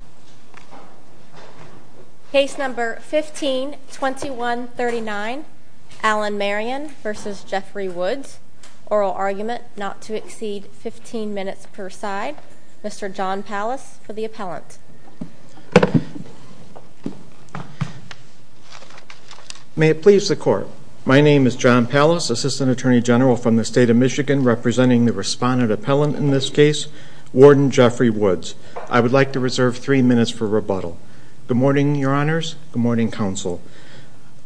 Oral argument not to exceed 15 minutes per side. Mr. John Pallas for the appellant. May it please the court. My name is John Pallas, Assistant Attorney General from the state of Michigan, representing the respondent appellant in this case, Warden Jeffrey Woods. I would like to reserve three minutes for rebuttal. Good morning, your honors. Good morning, counsel.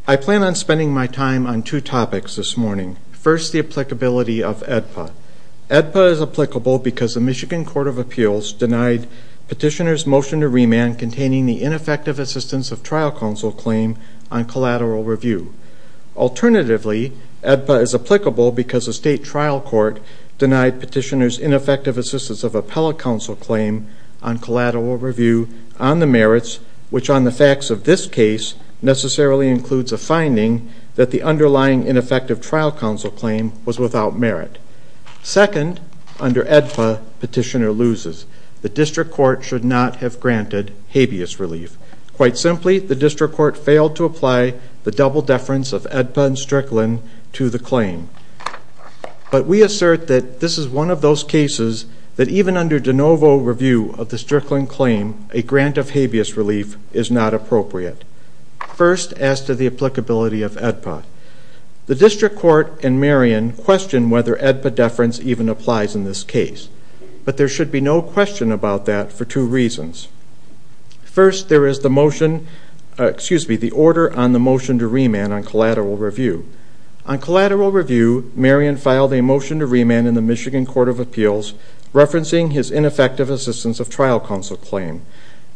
I plan on spending my time on two topics this morning. First, the applicability of AEDPA. AEDPA is applicable because the Michigan Court of Appeals denied petitioner's motion to remand containing the ineffective assistance of trial counsel claim on collateral review. Alternatively, AEDPA is applicable because the state trial court denied petitioner's ineffective assistance of appellate counsel claim on the merits, which on the facts of this case necessarily includes a finding that the underlying ineffective trial counsel claim was without merit. Second, under AEDPA, petitioner loses. The district court should not have granted habeas relief. Quite simply, the district court failed to apply the double deference of AEDPA and Strickland to the claim. But we assert that this is one of those cases that even under de novo review of the Strickland claim, a grant of habeas relief is not appropriate. First, as to the applicability of AEDPA, the district court and Marion questioned whether AEDPA deference even applies in this case. But there should be no question about that for two reasons. First, there is the motion, excuse me, the order on the motion to remand on collateral review. On collateral review, Marion filed a motion to remand in the Michigan Court of Appeals, referencing his ineffective assistance of trial counsel claim.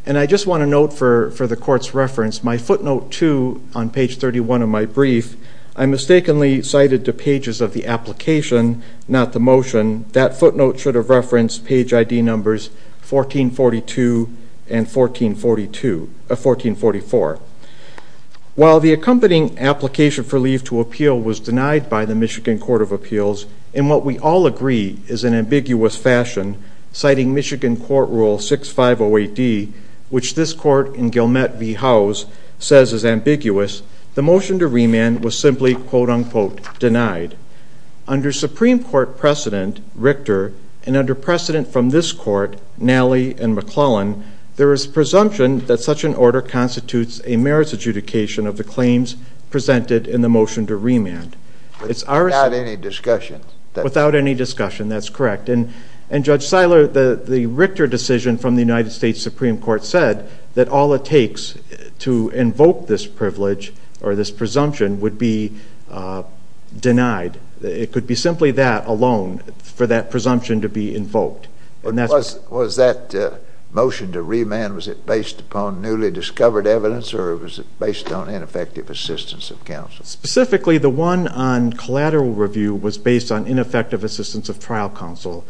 And I just want to note for the court's reference, my footnote 2 on page 31 of my brief, I mistakenly cited the pages of the application, not the motion. That footnote should have referenced page ID numbers 1442 and 1444. While the accompanying application for leave to appeal was denied by the Michigan Court of Appeals, in what we all agree is an ambiguous fashion, citing Michigan Court Rule 6508D, which this court in Gilmette v. Howes says is ambiguous, the motion to remand was simply quote-unquote denied. Under Supreme Court precedent, Richter, and under precedent from this court, Nally and McClellan, there is presumption that such an order constitutes a merits adjudication of the discussion. Without any discussion, that's correct. And Judge Siler, the Richter decision from the United States Supreme Court said that all it takes to invoke this privilege or this presumption would be denied. It could be simply that alone, for that presumption to be invoked. Was that motion to remand, was it based upon newly discovered evidence or was it based on ineffective assistance of counsel? Specifically, the one on collateral review was based on ineffective assistance of trial counsel.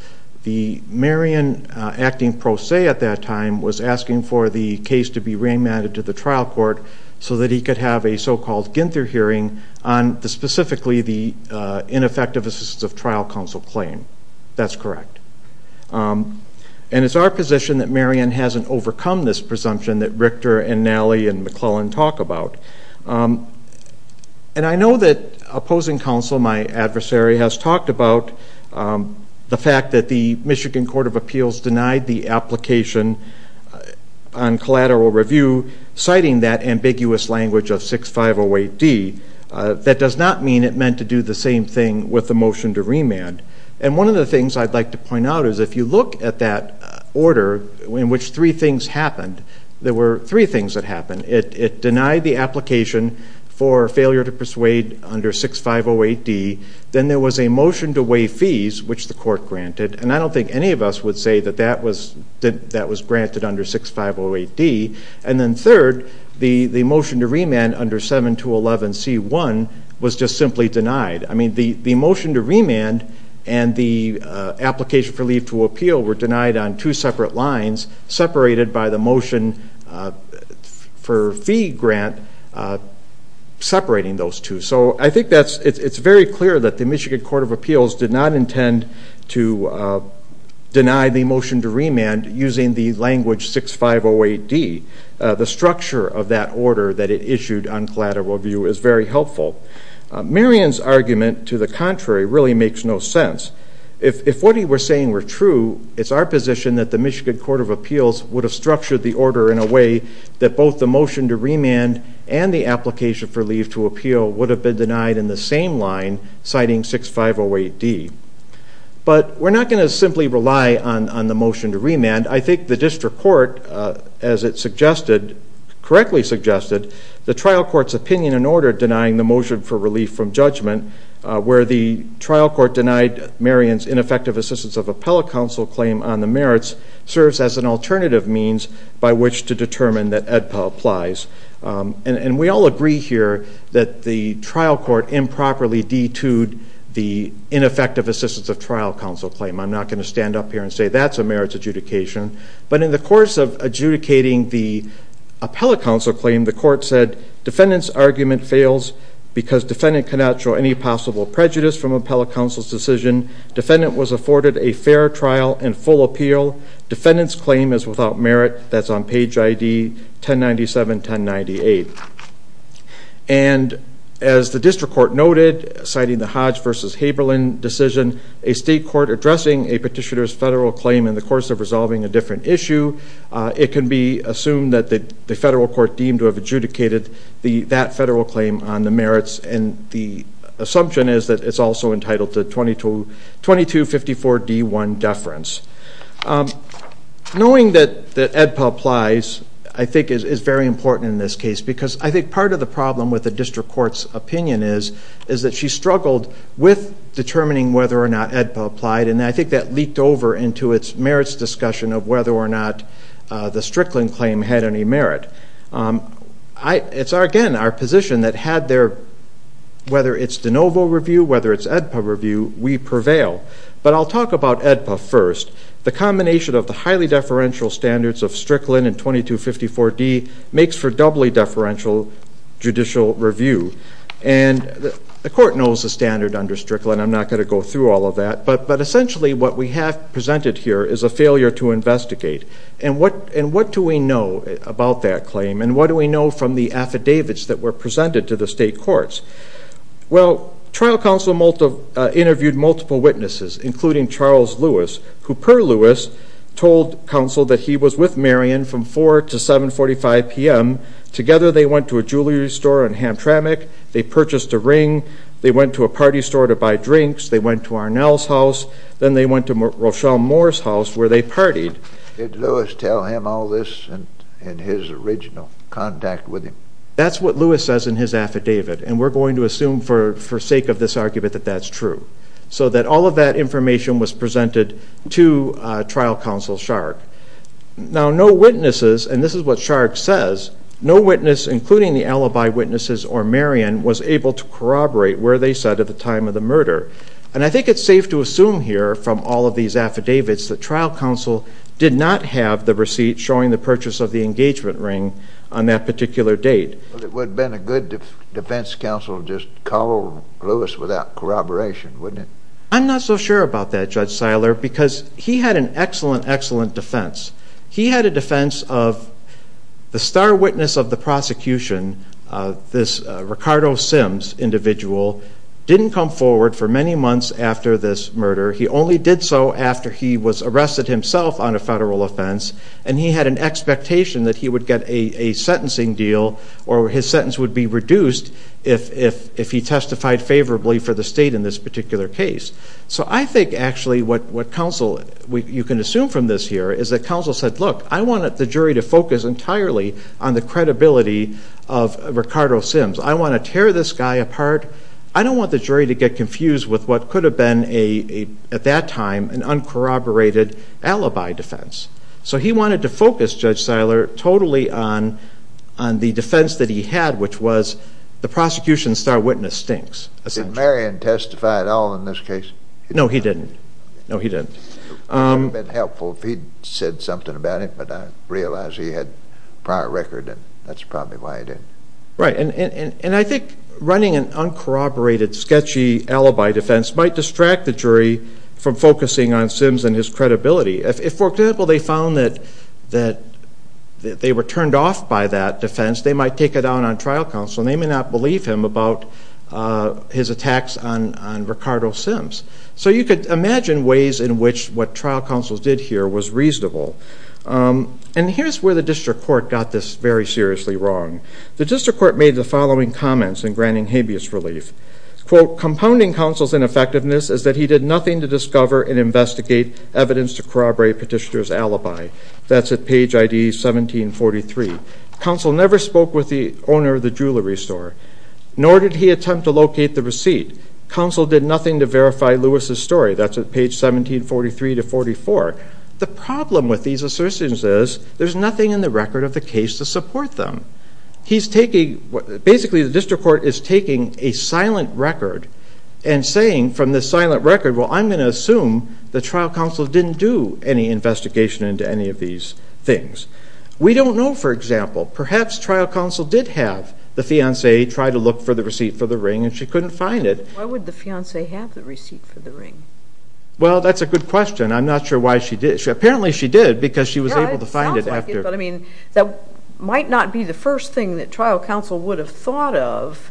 The Marion acting pro se at that time was asking for the case to be remanded to the trial court so that he could have a so-called Ginther hearing on the specifically the ineffective assistance of trial counsel claim. That's correct. And it's our position that Marion hasn't overcome this presumption that Richter and Nally and McClellan talk about. And I know that opposing counsel, my adversary, has talked about the fact that the Michigan Court of Appeals denied the application on collateral review, citing that ambiguous language of 6508D. That does not mean it meant to do the same thing with the motion to remand. And one of the things I'd like to point out is if you look at that order in which three things had happened, it denied the application for failure to persuade under 6508D, then there was a motion to waive fees, which the court granted, and I don't think any of us would say that that was granted under 6508D. And then third, the motion to remand under 7211C1 was just simply denied. I mean the motion to remand and the application for leave to appeal were denied on two for fee grant separating those two. So I think it's very clear that the Michigan Court of Appeals did not intend to deny the motion to remand using the language 6508D. The structure of that order that it issued on collateral review is very helpful. Marion's argument to the contrary really makes no sense. If what he was saying were true, it's our position that the Michigan Court of both the motion to remand and the application for leave to appeal would have been denied in the same line citing 6508D. But we're not going to simply rely on the motion to remand. I think the district court, as it suggested, correctly suggested, the trial court's opinion in order denying the motion for relief from judgment, where the trial court denied Marion's ineffective assistance of appellate counsel claim on the merits, serves as an alternative means by which to determine that AEDPA applies. And we all agree here that the trial court improperly detuned the ineffective assistance of trial counsel claim. I'm not going to stand up here and say that's a merits adjudication. But in the course of adjudicating the appellate counsel claim, the court said defendant's argument fails because defendant cannot show any possible prejudice from appellate counsel's decision. Defendant was afforded a fair trial and full appeal. Defendant's claim is without merit. That's on page ID 1097, 1098. And as the district court noted, citing the Hodge versus Haberlin decision, a state court addressing a petitioner's federal claim in the course of resolving a different issue, it can be assumed that the federal court deemed to have adjudicated that federal claim on the merits. And the assumption is that it's also entitled to 2254 D1 deference. Knowing that AEDPA applies, I think, is very important in this case. Because I think part of the problem with the district court's opinion is that she struggled with determining whether or not AEDPA applied. And I think that leaked over into its merits discussion of whether or not the Strickland claim had any merit. It's, again, our position that had their, whether it's de novo review, whether it's AEDPA review, we prevail. But I'll talk about AEDPA first. The combination of the highly deferential standards of Strickland and 2254 D makes for doubly deferential judicial review. And the court knows the standard under Strickland. I'm not going to go through all of that. But essentially what we have presented here is a failure to investigate. And what do we know about that claim? And what do we know from the affidavits that were presented to the state courts? Well, trial counsel interviewed multiple witnesses, including Charles Lewis, who, per Lewis, told counsel that he was with Marion from 4 to 7 45 p.m. Together they went to a jewelry store in Hamtramck. They purchased a ring. They went to a party store to buy drinks. They went to Arnell's house. Then they went to Rochelle Moore's house where they partied. Did Lewis tell him all this in his original contact with him? That's what Lewis says in his affidavit. And we're going to assume for sake of this argument that that's true. So that all of that information was presented to trial counsel Shark. Now no witnesses, and this is what Shark says, no witness, including the alibi witnesses or Marion, was able to corroborate where they said at the time of the murder. And I think it's safe to assume here from all of these affidavits that trial counsel did not have the receipt showing the purchase of the engagement ring on that particular date. It would have been a good defense counsel to just call Lewis without corroboration, wouldn't it? I'm not so sure about that, Judge Seiler, because he had an excellent, excellent defense. He had a defense of the star witness of the prosecution, this Ricardo Sims individual, didn't come forward for many months after this murder. He only did so after he was himself on a federal offense, and he had an expectation that he would get a sentencing deal or his sentence would be reduced if he testified favorably for the state in this particular case. So I think actually what counsel, you can assume from this here, is that counsel said, look, I wanted the jury to focus entirely on the credibility of Ricardo Sims. I want to tear this guy apart. I don't want the jury to get confused with what could have been a, at least, uncorroborated alibi defense. So he wanted to focus, Judge Seiler, totally on on the defense that he had, which was the prosecution's star witness stinks, essentially. Did Marion testify at all in this case? No, he didn't. No, he didn't. It would have been helpful if he'd said something about it, but I realize he had a prior record, and that's probably why he didn't. Right, and I think running an uncorroborated, sketchy alibi defense might distract the jury from focusing on Sims and his credibility. If, for example, they found that they were turned off by that defense, they might take it out on trial counsel, and they may not believe him about his attacks on Ricardo Sims. So you could imagine ways in which what trial counsels did here was reasonable. And here's where the district court got this very seriously wrong. The district court made the following comments in granting habeas relief. Quote, compounding counsel's ineffectiveness is that he did nothing to discover and investigate evidence to corroborate Petitioner's alibi. That's at page ID 1743. Counsel never spoke with the owner of the jewelry store, nor did he attempt to locate the receipt. Counsel did nothing to verify Lewis's story. That's at page 1743 to 44. The problem with these assertions is there's nothing in the record of the case to support them. He's taking, basically the district court is taking a silent record and saying from the silent record, well I'm going to assume the trial counsel didn't do any investigation into any of these things. We don't know, for example, perhaps trial counsel did have the fiancee try to look for the receipt for the ring and she couldn't find it. Why would the fiancee have the receipt for the ring? Well, that's a good question. I'm not sure why she did. Apparently she did because she was able to find it. I mean, that might not be the first thing that trial counsel would have thought of.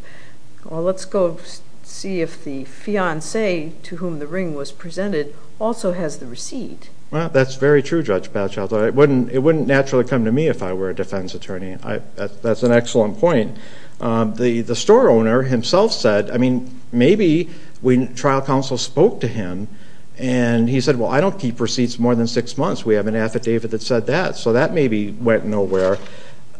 Well, let's go see if the fiancee to whom the ring was presented also has the receipt. Well, that's very true, Judge Batchelder. It wouldn't naturally come to me if I were a defense attorney. That's an excellent point. The store owner himself said, I mean, maybe when trial counsel spoke to him and he said, well I don't keep receipts more than six months. We have an affidavit that said that. So that maybe went nowhere.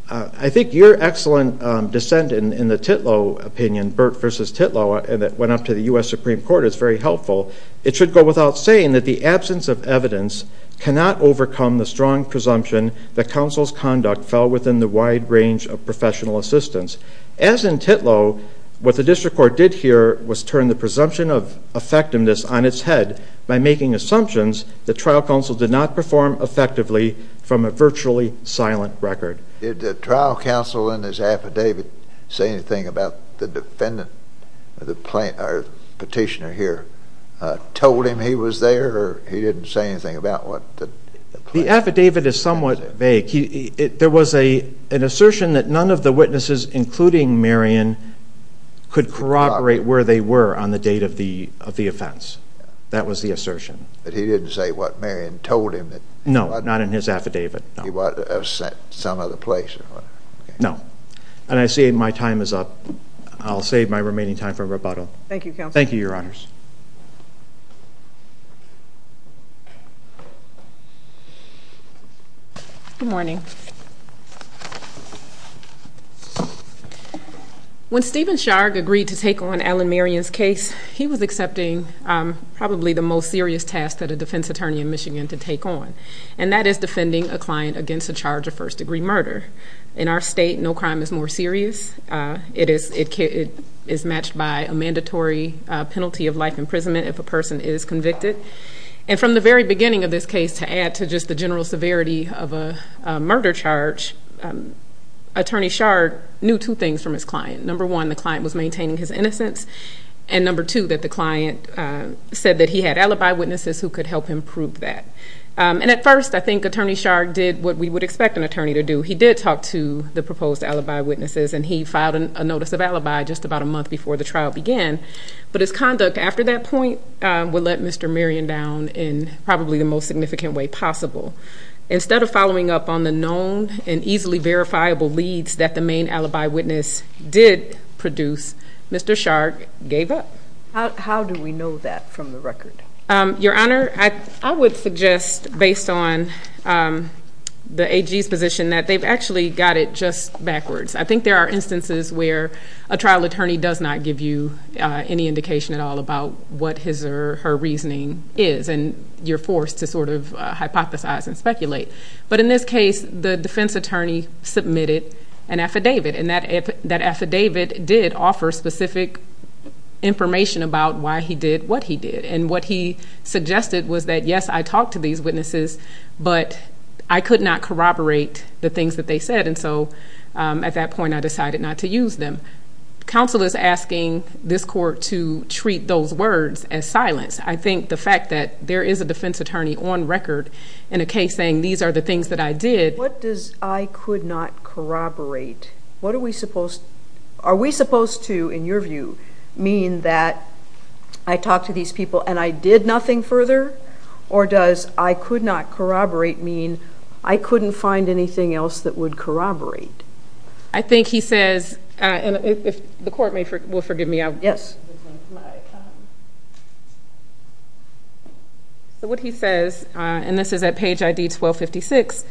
I think your excellent dissent in the Titlow opinion, Burt versus Titlow, and that went up to the U.S. Supreme Court is very helpful. It should go without saying that the absence of evidence cannot overcome the strong presumption that counsel's conduct fell within the wide range of professional assistance. As in Titlow, what the district court did here was turn the presumption of effectiveness on its head by making assumptions that trial counsel did not perform effectively from a virtually silent record. Did the trial counsel in his affidavit say anything about the defendant, the petitioner here, told him he was there or he didn't say anything about what the plaintiff said? The affidavit is somewhat vague. There was an assertion that none of the witnesses, including Marion, could corroborate where they were on the date of the hearing. No, not in his affidavit. He was at some other place. No. And I see my time is up. I'll save my remaining time for rebuttal. Thank you, counsel. Thank you, your honors. Good morning. When Stephen Sharg agreed to take on Alan Marion's case, he was accepting probably the most serious task that a defense attorney in Michigan to and that is defending a client against a charge of first-degree murder. In our state, no crime is more serious. It is matched by a mandatory penalty of life imprisonment if a person is convicted. And from the very beginning of this case, to add to just the general severity of a murder charge, Attorney Sharg knew two things from his client. Number one, the client was maintaining his innocence. And number two, that the client said that he had alibi witnesses who could help him prove that. And at first, I think Attorney Sharg did what we would expect an attorney to do. He did talk to the proposed alibi witnesses and he filed a notice of alibi just about a month before the trial began. But his conduct after that point would let Mr. Marion down in probably the most significant way possible. Instead of following up on the known and easily verifiable leads that the main alibi witness did produce, Mr. Sharg gave up. How do we know that from the record? Your Honor, I would suggest based on the AG's position that they've actually got it just backwards. I think there are instances where a trial attorney does not give you any indication at all about what his or her reasoning is and you're forced to sort of hypothesize and speculate. But in this case, the defense attorney submitted an affidavit and that affidavit did offer specific information about why he did what he did. And what he suggested was that, yes, I talked to these witnesses, but I could not corroborate the things that they said. And so at that point, I decided not to use them. Counsel is asking this court to treat those words as silence. I think the fact that there is a defense attorney on record in a case saying these are the things that I did. What does I could not corroborate? What are we supposed to, in your view, mean that I talked to these people and I did nothing further? Or does I could not corroborate mean I couldn't find anything else that would corroborate? I think he says, and if the court will forgive me, I'll... Yes. So what he says, and this is at page ID 1256,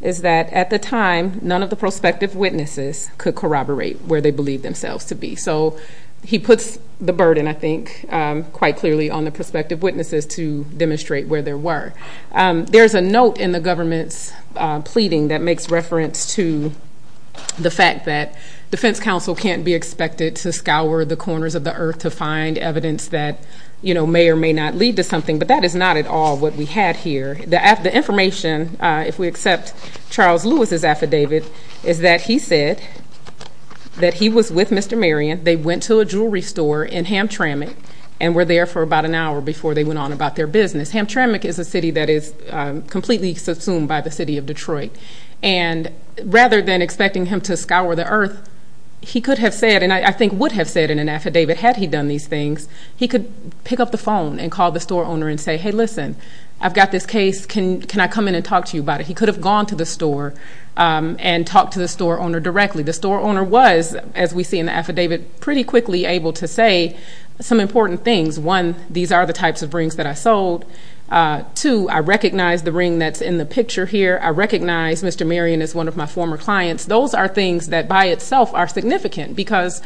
is that at the time, none of the prospective witnesses could corroborate where they believed themselves to be. So he puts the burden, I think, quite clearly on the prospective witnesses to demonstrate where there were. There's a note in the government's pleading that makes reference to the fact that defense counsel can't be expected to scour the corners of the earth to find evidence that may or may not lead to something, but that is not at all what we had here. The information, if we accept Charles Lewis's affidavit, is that he said that he was with Mr. Marion. They went to a jewelry store in Hamtramck and were there for about an hour before they went on about their business. Hamtramck is a city that is completely subsumed by the city of Detroit. And rather than expecting him to scour the earth, he could have said, and I think would have said in an affidavit, had he done these things, he could pick up the phone and call the store owner and say, Hey, listen, I've got this case. Can I come in and talk to you about it? He could have gone to the store and talked to the store owner directly. The store owner was, as we see in the affidavit, pretty quickly able to say some important things. One, these are the types of rings that I sold. Two, I recognize the ring that's in the picture here. I recognize Mr. Marion is one of my former clients. Those are things that by itself are significant because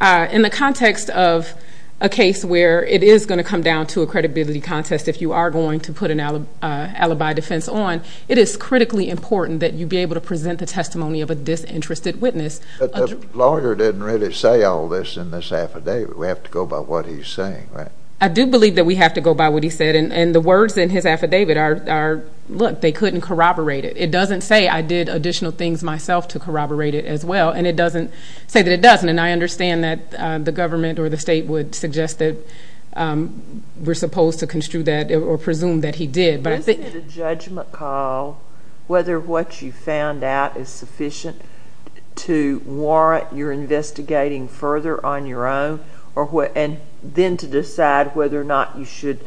in the context of a case where it is gonna come down to a credibility contest, if you are going to put an affidavit on, it is critically important that you be able to present the testimony of a disinterested witness. But the lawyer didn't really say all this in this affidavit. We have to go by what he's saying, right? I do believe that we have to go by what he said. And the words in his affidavit are, look, they couldn't corroborate it. It doesn't say I did additional things myself to corroborate it as well. And it doesn't say that it doesn't. And I understand that the government or the state would suggest that we're supposed to construe that or presume that he did. But I think... Whether what you found out is sufficient to warrant your investigating further on your own or what... And then to decide whether or not you should,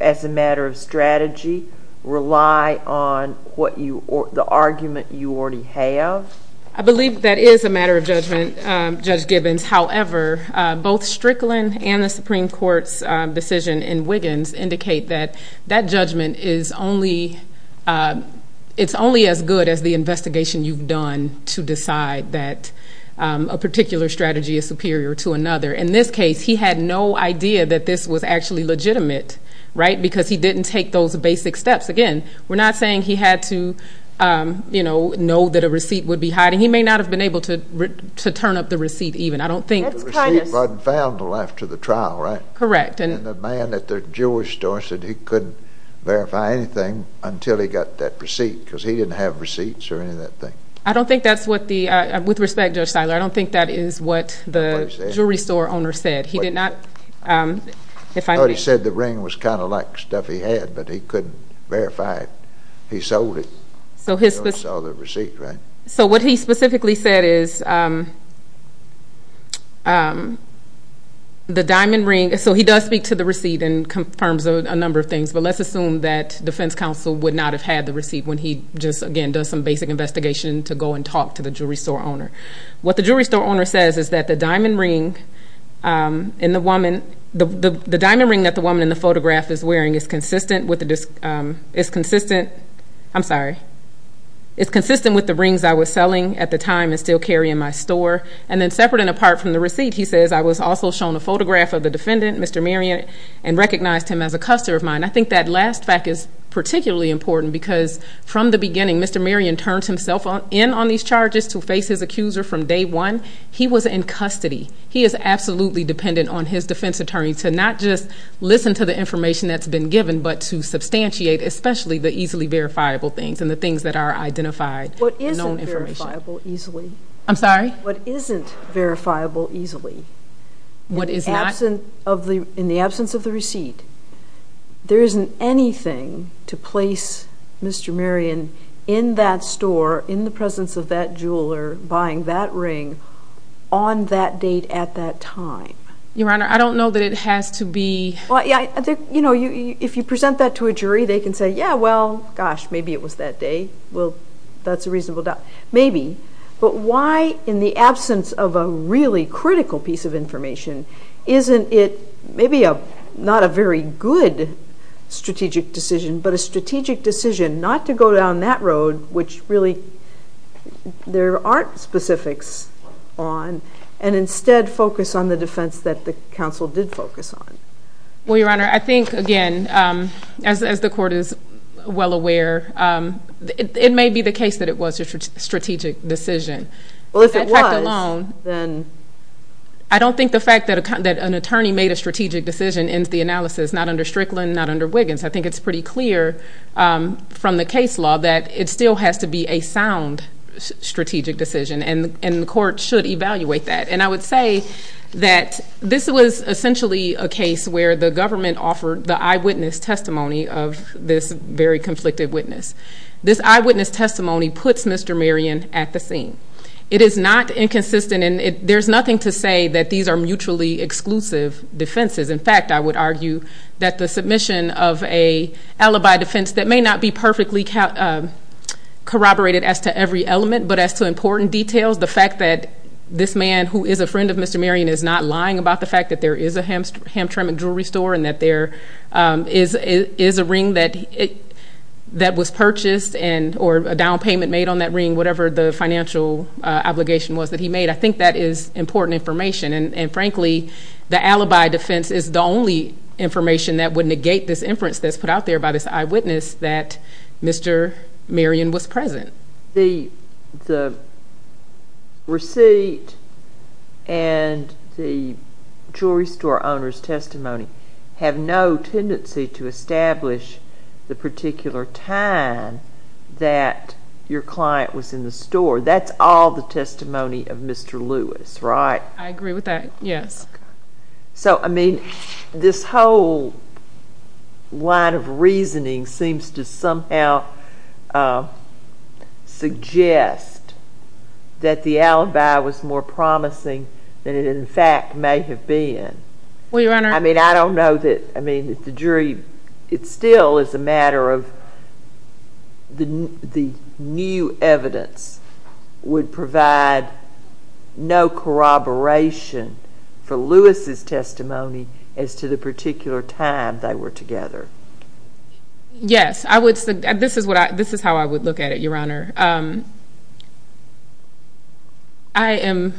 as a matter of strategy, rely on what you... The argument you already have. I believe that is a matter of judgment, Judge Gibbons. However, both Strickland and the Supreme Court's decision in Wiggins indicate that that judgment is only... It's only as good as the investigation you've done to decide that a particular strategy is superior to another. In this case, he had no idea that this was actually legitimate, right? Because he didn't take those basic steps. Again, we're not saying he had to know that a receipt would be hiding. He may not have been able to turn up the receipt even. I don't think... The receipt wasn't found until after the trial, right? Correct. And the man at the jewelry store said he couldn't verify anything until he got that receipt, because he didn't have receipts or any of that thing. I don't think that's what the... With respect, Judge Siler, I don't think that is what the jewelry store owner said. He did not... If I may... I thought he said the ring was kinda like stuff he had, but he couldn't verify it. He sold it. He sold the receipt, right? So what he specifically said is that the diamond ring... So he does speak to the receipt and confirms a number of things, but let's assume that defense counsel would not have had the receipt when he just, again, does some basic investigation to go and talk to the jewelry store owner. What the jewelry store owner says is that the diamond ring in the woman... The diamond ring that the woman in the photograph is wearing is consistent with the... Is consistent... I'm sorry. It's consistent with the rings I was selling at the time and still carry in my store. And then separate and apart from the receipt, he says, I was also shown a photograph of the defendant, Mr. Marion, and recognized him as a custer of mine. I think that last fact is particularly important because from the beginning, Mr. Marion turned himself in on these charges to face his accuser from day one. He was in custody. He is absolutely dependent on his defense attorney to not just listen to the information that's been given, but to substantiate, especially the easily verifiable things and the easily... I'm sorry? What isn't verifiable easily... What is not? In the absence of the receipt, there isn't anything to place Mr. Marion in that store, in the presence of that jeweler, buying that ring on that date at that time. Your Honor, I don't know that it has to be... Well, yeah. If you present that to a jury, they can say, yeah, well, gosh, maybe it was that day. Well, that's a reasonable doubt. Maybe. But why, in the absence of a really critical piece of information, isn't it maybe not a very good strategic decision, but a strategic decision not to go down that road, which really there aren't specifics on, and instead focus on the defense that the counsel did focus on? Well, Your Honor, I think, again, as the court is well aware, it may be the case that it was a strategic decision. Well, if it was, then... I don't think the fact that an attorney made a strategic decision ends the analysis, not under Strickland, not under Wiggins. I think it's pretty clear from the case law that it still has to be a sound strategic decision, and the court should evaluate that. And I would say that this was essentially a case where the government offered the eyewitness testimony of this very conflicted witness. This eyewitness testimony puts Mr. Marion at the scene. It is not inconsistent, and there's nothing to say that these are mutually exclusive defenses. In fact, I would argue that the submission of a alibi defense that may not be perfectly corroborated as to every element, but as to important details, the fact that this man who is a friend of Mr. Marion is not lying about the fact that there is a hamtramck jewelry store, and that there is a ring that was purchased, or a down payment made on that ring, whatever the financial obligation was that he made, I think that is important information. And frankly, the alibi defense is the only information that would negate this inference that's put out there by this eyewitness that Mr. Marion was present. The receipt and the jewelry store owner's testimony have no tendency to establish the particular time that your client was in the store. That's all the testimony of Mr. Lewis, right? I agree with that, yes. So, I mean, this whole line of that the alibi was more promising than it, in fact, may have been. Well, Your Honor... I mean, I don't know that... I mean, if the jury... It still is a matter of the new evidence would provide no corroboration for Lewis's testimony as to the particular time they were together. Yes, I would... This is how I would look at it, Your Honor. I am...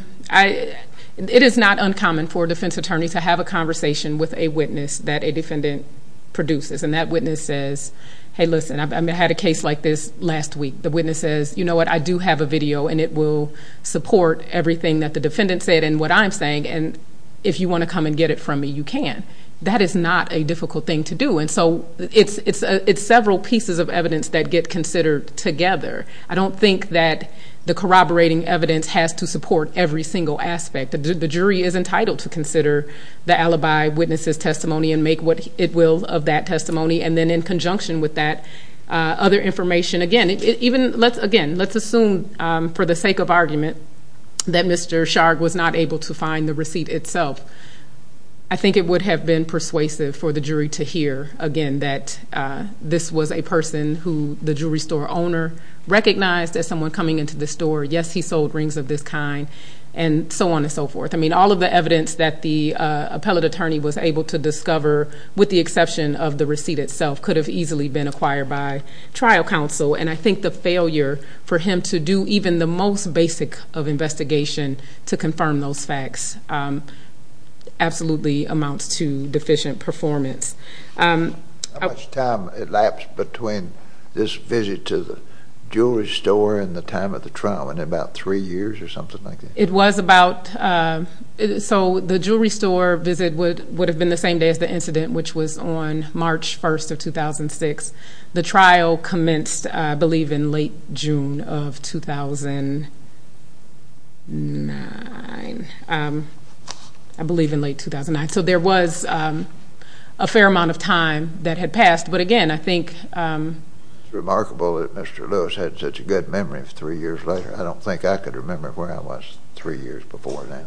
It is not uncommon for a defense attorney to have a conversation with a witness that a defendant produces, and that witness says, hey, listen, I had a case like this last week. The witness says, you know what, I do have a video, and it will support everything that the defendant said and what I'm saying, and if you wanna come and get it from me, you can. That is not a difficult thing to do, and so it's several pieces of evidence that get considered together. I don't think that the corroborating evidence has to support every single aspect. The jury is entitled to consider the alibi, witness's testimony, and make what it will of that testimony, and then in conjunction with that, other information. Again, let's assume, for the sake of argument, that Mr. Sharg was not able to find the receipt itself. I think it would have been persuasive for the jury to hear, again, that this was a person who the jewelry store owner recognized as someone coming into the store. Yes, he sold rings of this kind, and so on and so forth. All of the evidence that the appellate attorney was able to discover, with the exception of the receipt itself, could have easily been acquired by trial counsel, and I think the failure for him to do even the most basic of investigation to confirm those performance. How much time elapsed between this visit to the jewelry store and the time of the trial? Was it about three years or something like that? It was about... So the jewelry store visit would have been the same day as the incident, which was on March 1st of 2006. The trial commenced, I believe, in late June of 2009. I believe in late 2009. So there was a fair amount of time that had passed, but again, I think... It's remarkable that Mr. Lewis had such a good memory of three years later. I don't think I could remember where I was three years before that.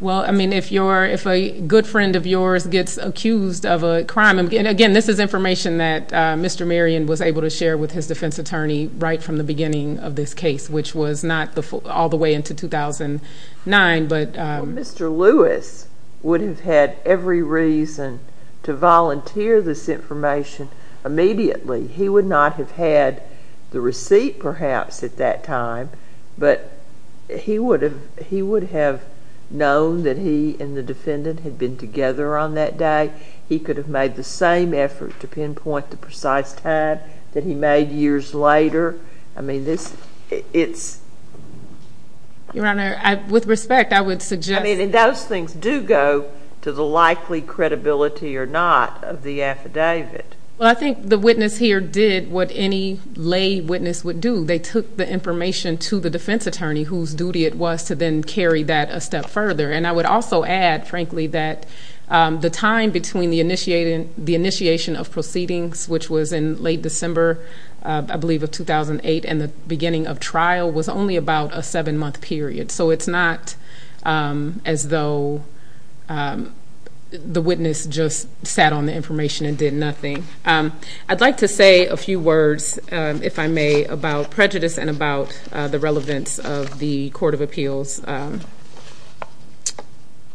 Well, I mean, if a good friend of yours gets accused of a crime... And again, this is information that Mr. Merrion was able to share with his defense attorney right from the beginning of this case, which was not all the way into 2009, but... Mr. Lewis would have had every reason to volunteer this information immediately. He would not have had the receipt, perhaps, at that time, but he would have known that he and the defendant had been together on that day. He could have made the same effort to pinpoint the precise time that he made years later. I mean, this... It's... Your Honor, with respect, I would suggest... I mean, and those things do go to the likely credibility or not of the affidavit. Well, I think the witness here did what any lay witness would do. They took the information to the defense attorney, whose duty it was to then carry that a step further. And I would also add, frankly, that the time between the initiation of proceedings, which was in late December, I believe of 2008, and the beginning of trial was only about a seven month period. So it's not as though the witness just sat on the information and did nothing. I'd like to say a few words, if I may, about prejudice and about the relevance of the Court of Appeals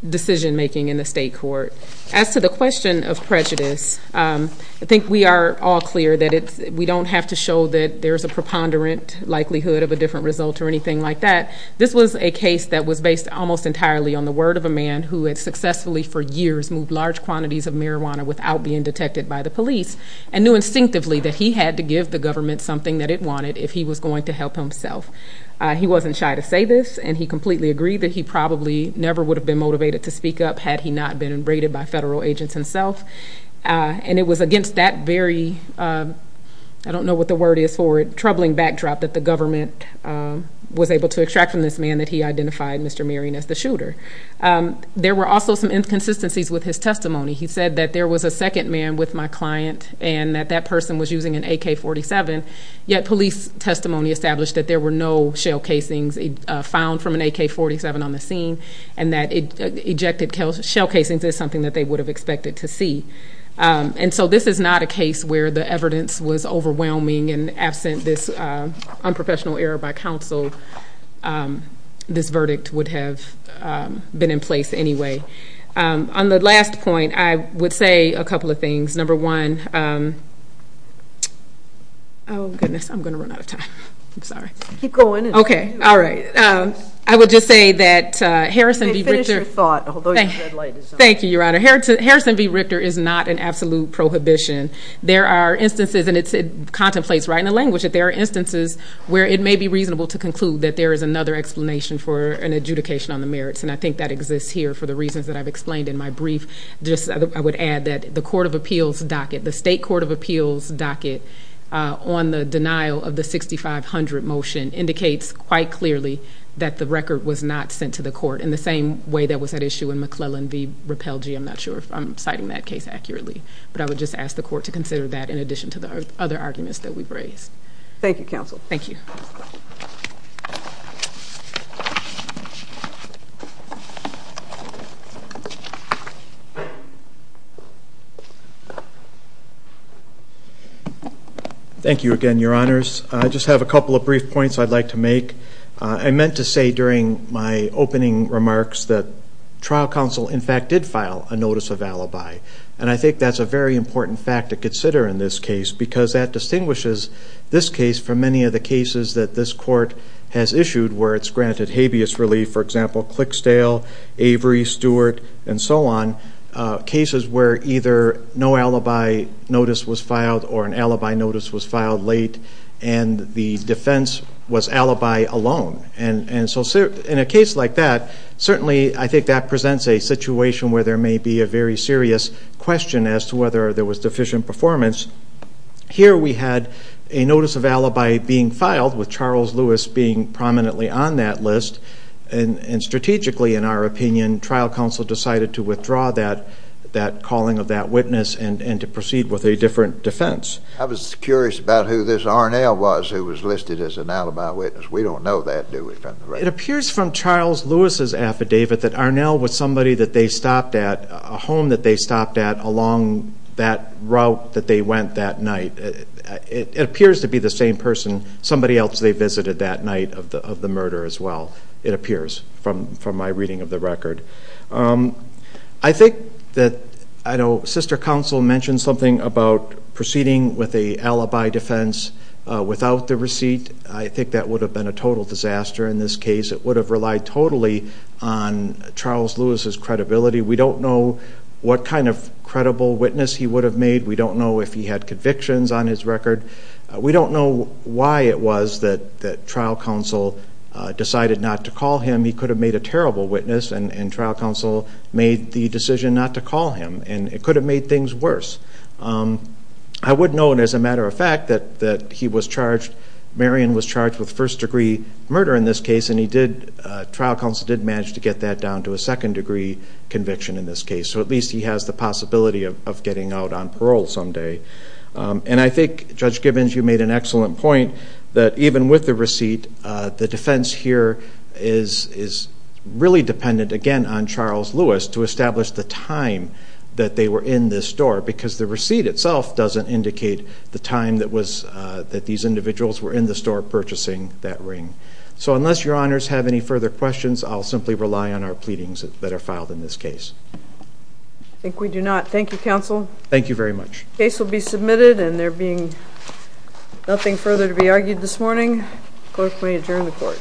decision making in the state court. As to the question of prejudice, I think we are all clear that we don't have to show that likelihood of a different result or anything like that. This was a case that was based almost entirely on the word of a man who had successfully, for years, moved large quantities of marijuana without being detected by the police, and knew instinctively that he had to give the government something that it wanted if he was going to help himself. He wasn't shy to say this, and he completely agreed that he probably never would have been motivated to speak up had he not been abraded by federal agents himself. And it was against that very... The government was able to extract from this man that he identified Mr. Marion as the shooter. There were also some inconsistencies with his testimony. He said that there was a second man with my client and that that person was using an AK-47, yet police testimony established that there were no shell casings found from an AK-47 on the scene, and that ejected shell casings is something that they would have expected to see. And so this is not a case where the evidence was unprofessional error by counsel. This verdict would have been in place anyway. On the last point, I would say a couple of things. Number one... Oh, goodness, I'm gonna run out of time. I'm sorry. Keep going. Okay. All right. I would just say that Harrison v. Richter... You may finish your thought, although your red light is on. Thank you, Your Honor. Harrison v. Richter is not an absolute prohibition. There are instances, and it contemplates right in the language, that there are instances where it may be reasonable to conclude that there is another explanation for an adjudication on the merits, and I think that exists here for the reasons that I've explained in my brief. Just I would add that the Court of Appeals docket, the State Court of Appeals docket, on the denial of the 6500 motion indicates quite clearly that the record was not sent to the court in the same way that was at issue in McClellan v. Repelge. I'm not sure if I'm citing that case accurately, but I would just ask the court to consider that in addition to the other arguments that we've raised. Thank you, counsel. Thank you. Thank you again, Your Honors. I just have a couple of brief points I'd like to make. I meant to say during my opening remarks that trial counsel, in fact, did file a notice of alibi, and I think that's a very important fact to consider in this case, because that distinguishes this case from many of the cases that this court has issued where it's granted habeas relief, for example, Clixdale, Avery, Stewart, and so on. Cases where either no alibi notice was filed or an alibi notice was filed late, and the defense was alibi alone. And so in a case like that, certainly I think that presents a very serious question as to whether there was deficient performance. Here, we had a notice of alibi being filed with Charles Lewis being prominently on that list, and strategically, in our opinion, trial counsel decided to withdraw that calling of that witness and to proceed with a different defense. I was curious about who this Arnell was who was listed as an alibi witness. We don't know that, do we, from the record? It appears from Charles Lewis's affidavit that Arnell was somebody that a home that they stopped at along that route that they went that night. It appears to be the same person, somebody else they visited that night of the murder as well, it appears from my reading of the record. I think that... I know sister counsel mentioned something about proceeding with a alibi defense without the receipt. I think that would have been a total disaster in this case. It would have relied totally on Charles Lewis's credibility. We don't know what kind of credible witness he would have made. We don't know if he had convictions on his record. We don't know why it was that trial counsel decided not to call him. He could have made a terrible witness, and trial counsel made the decision not to call him, and it could have made things worse. I would know, and as a matter of fact, that he was charged, Marion was charged with first degree murder in this case, and he did... Second degree conviction in this case, so at least he has the possibility of getting out on parole someday. And I think Judge Gibbons, you made an excellent point that even with the receipt, the defense here is really dependent, again, on Charles Lewis to establish the time that they were in this store, because the receipt itself doesn't indicate the time that was... That these individuals were in the store purchasing that ring. So unless your honors have any further questions, I'll simply rely on our pleadings that are filed in this case. I think we do not. Thank you, counsel. Thank you very much. The case will be submitted, and there being nothing further to be argued this morning, the court may adjourn the court.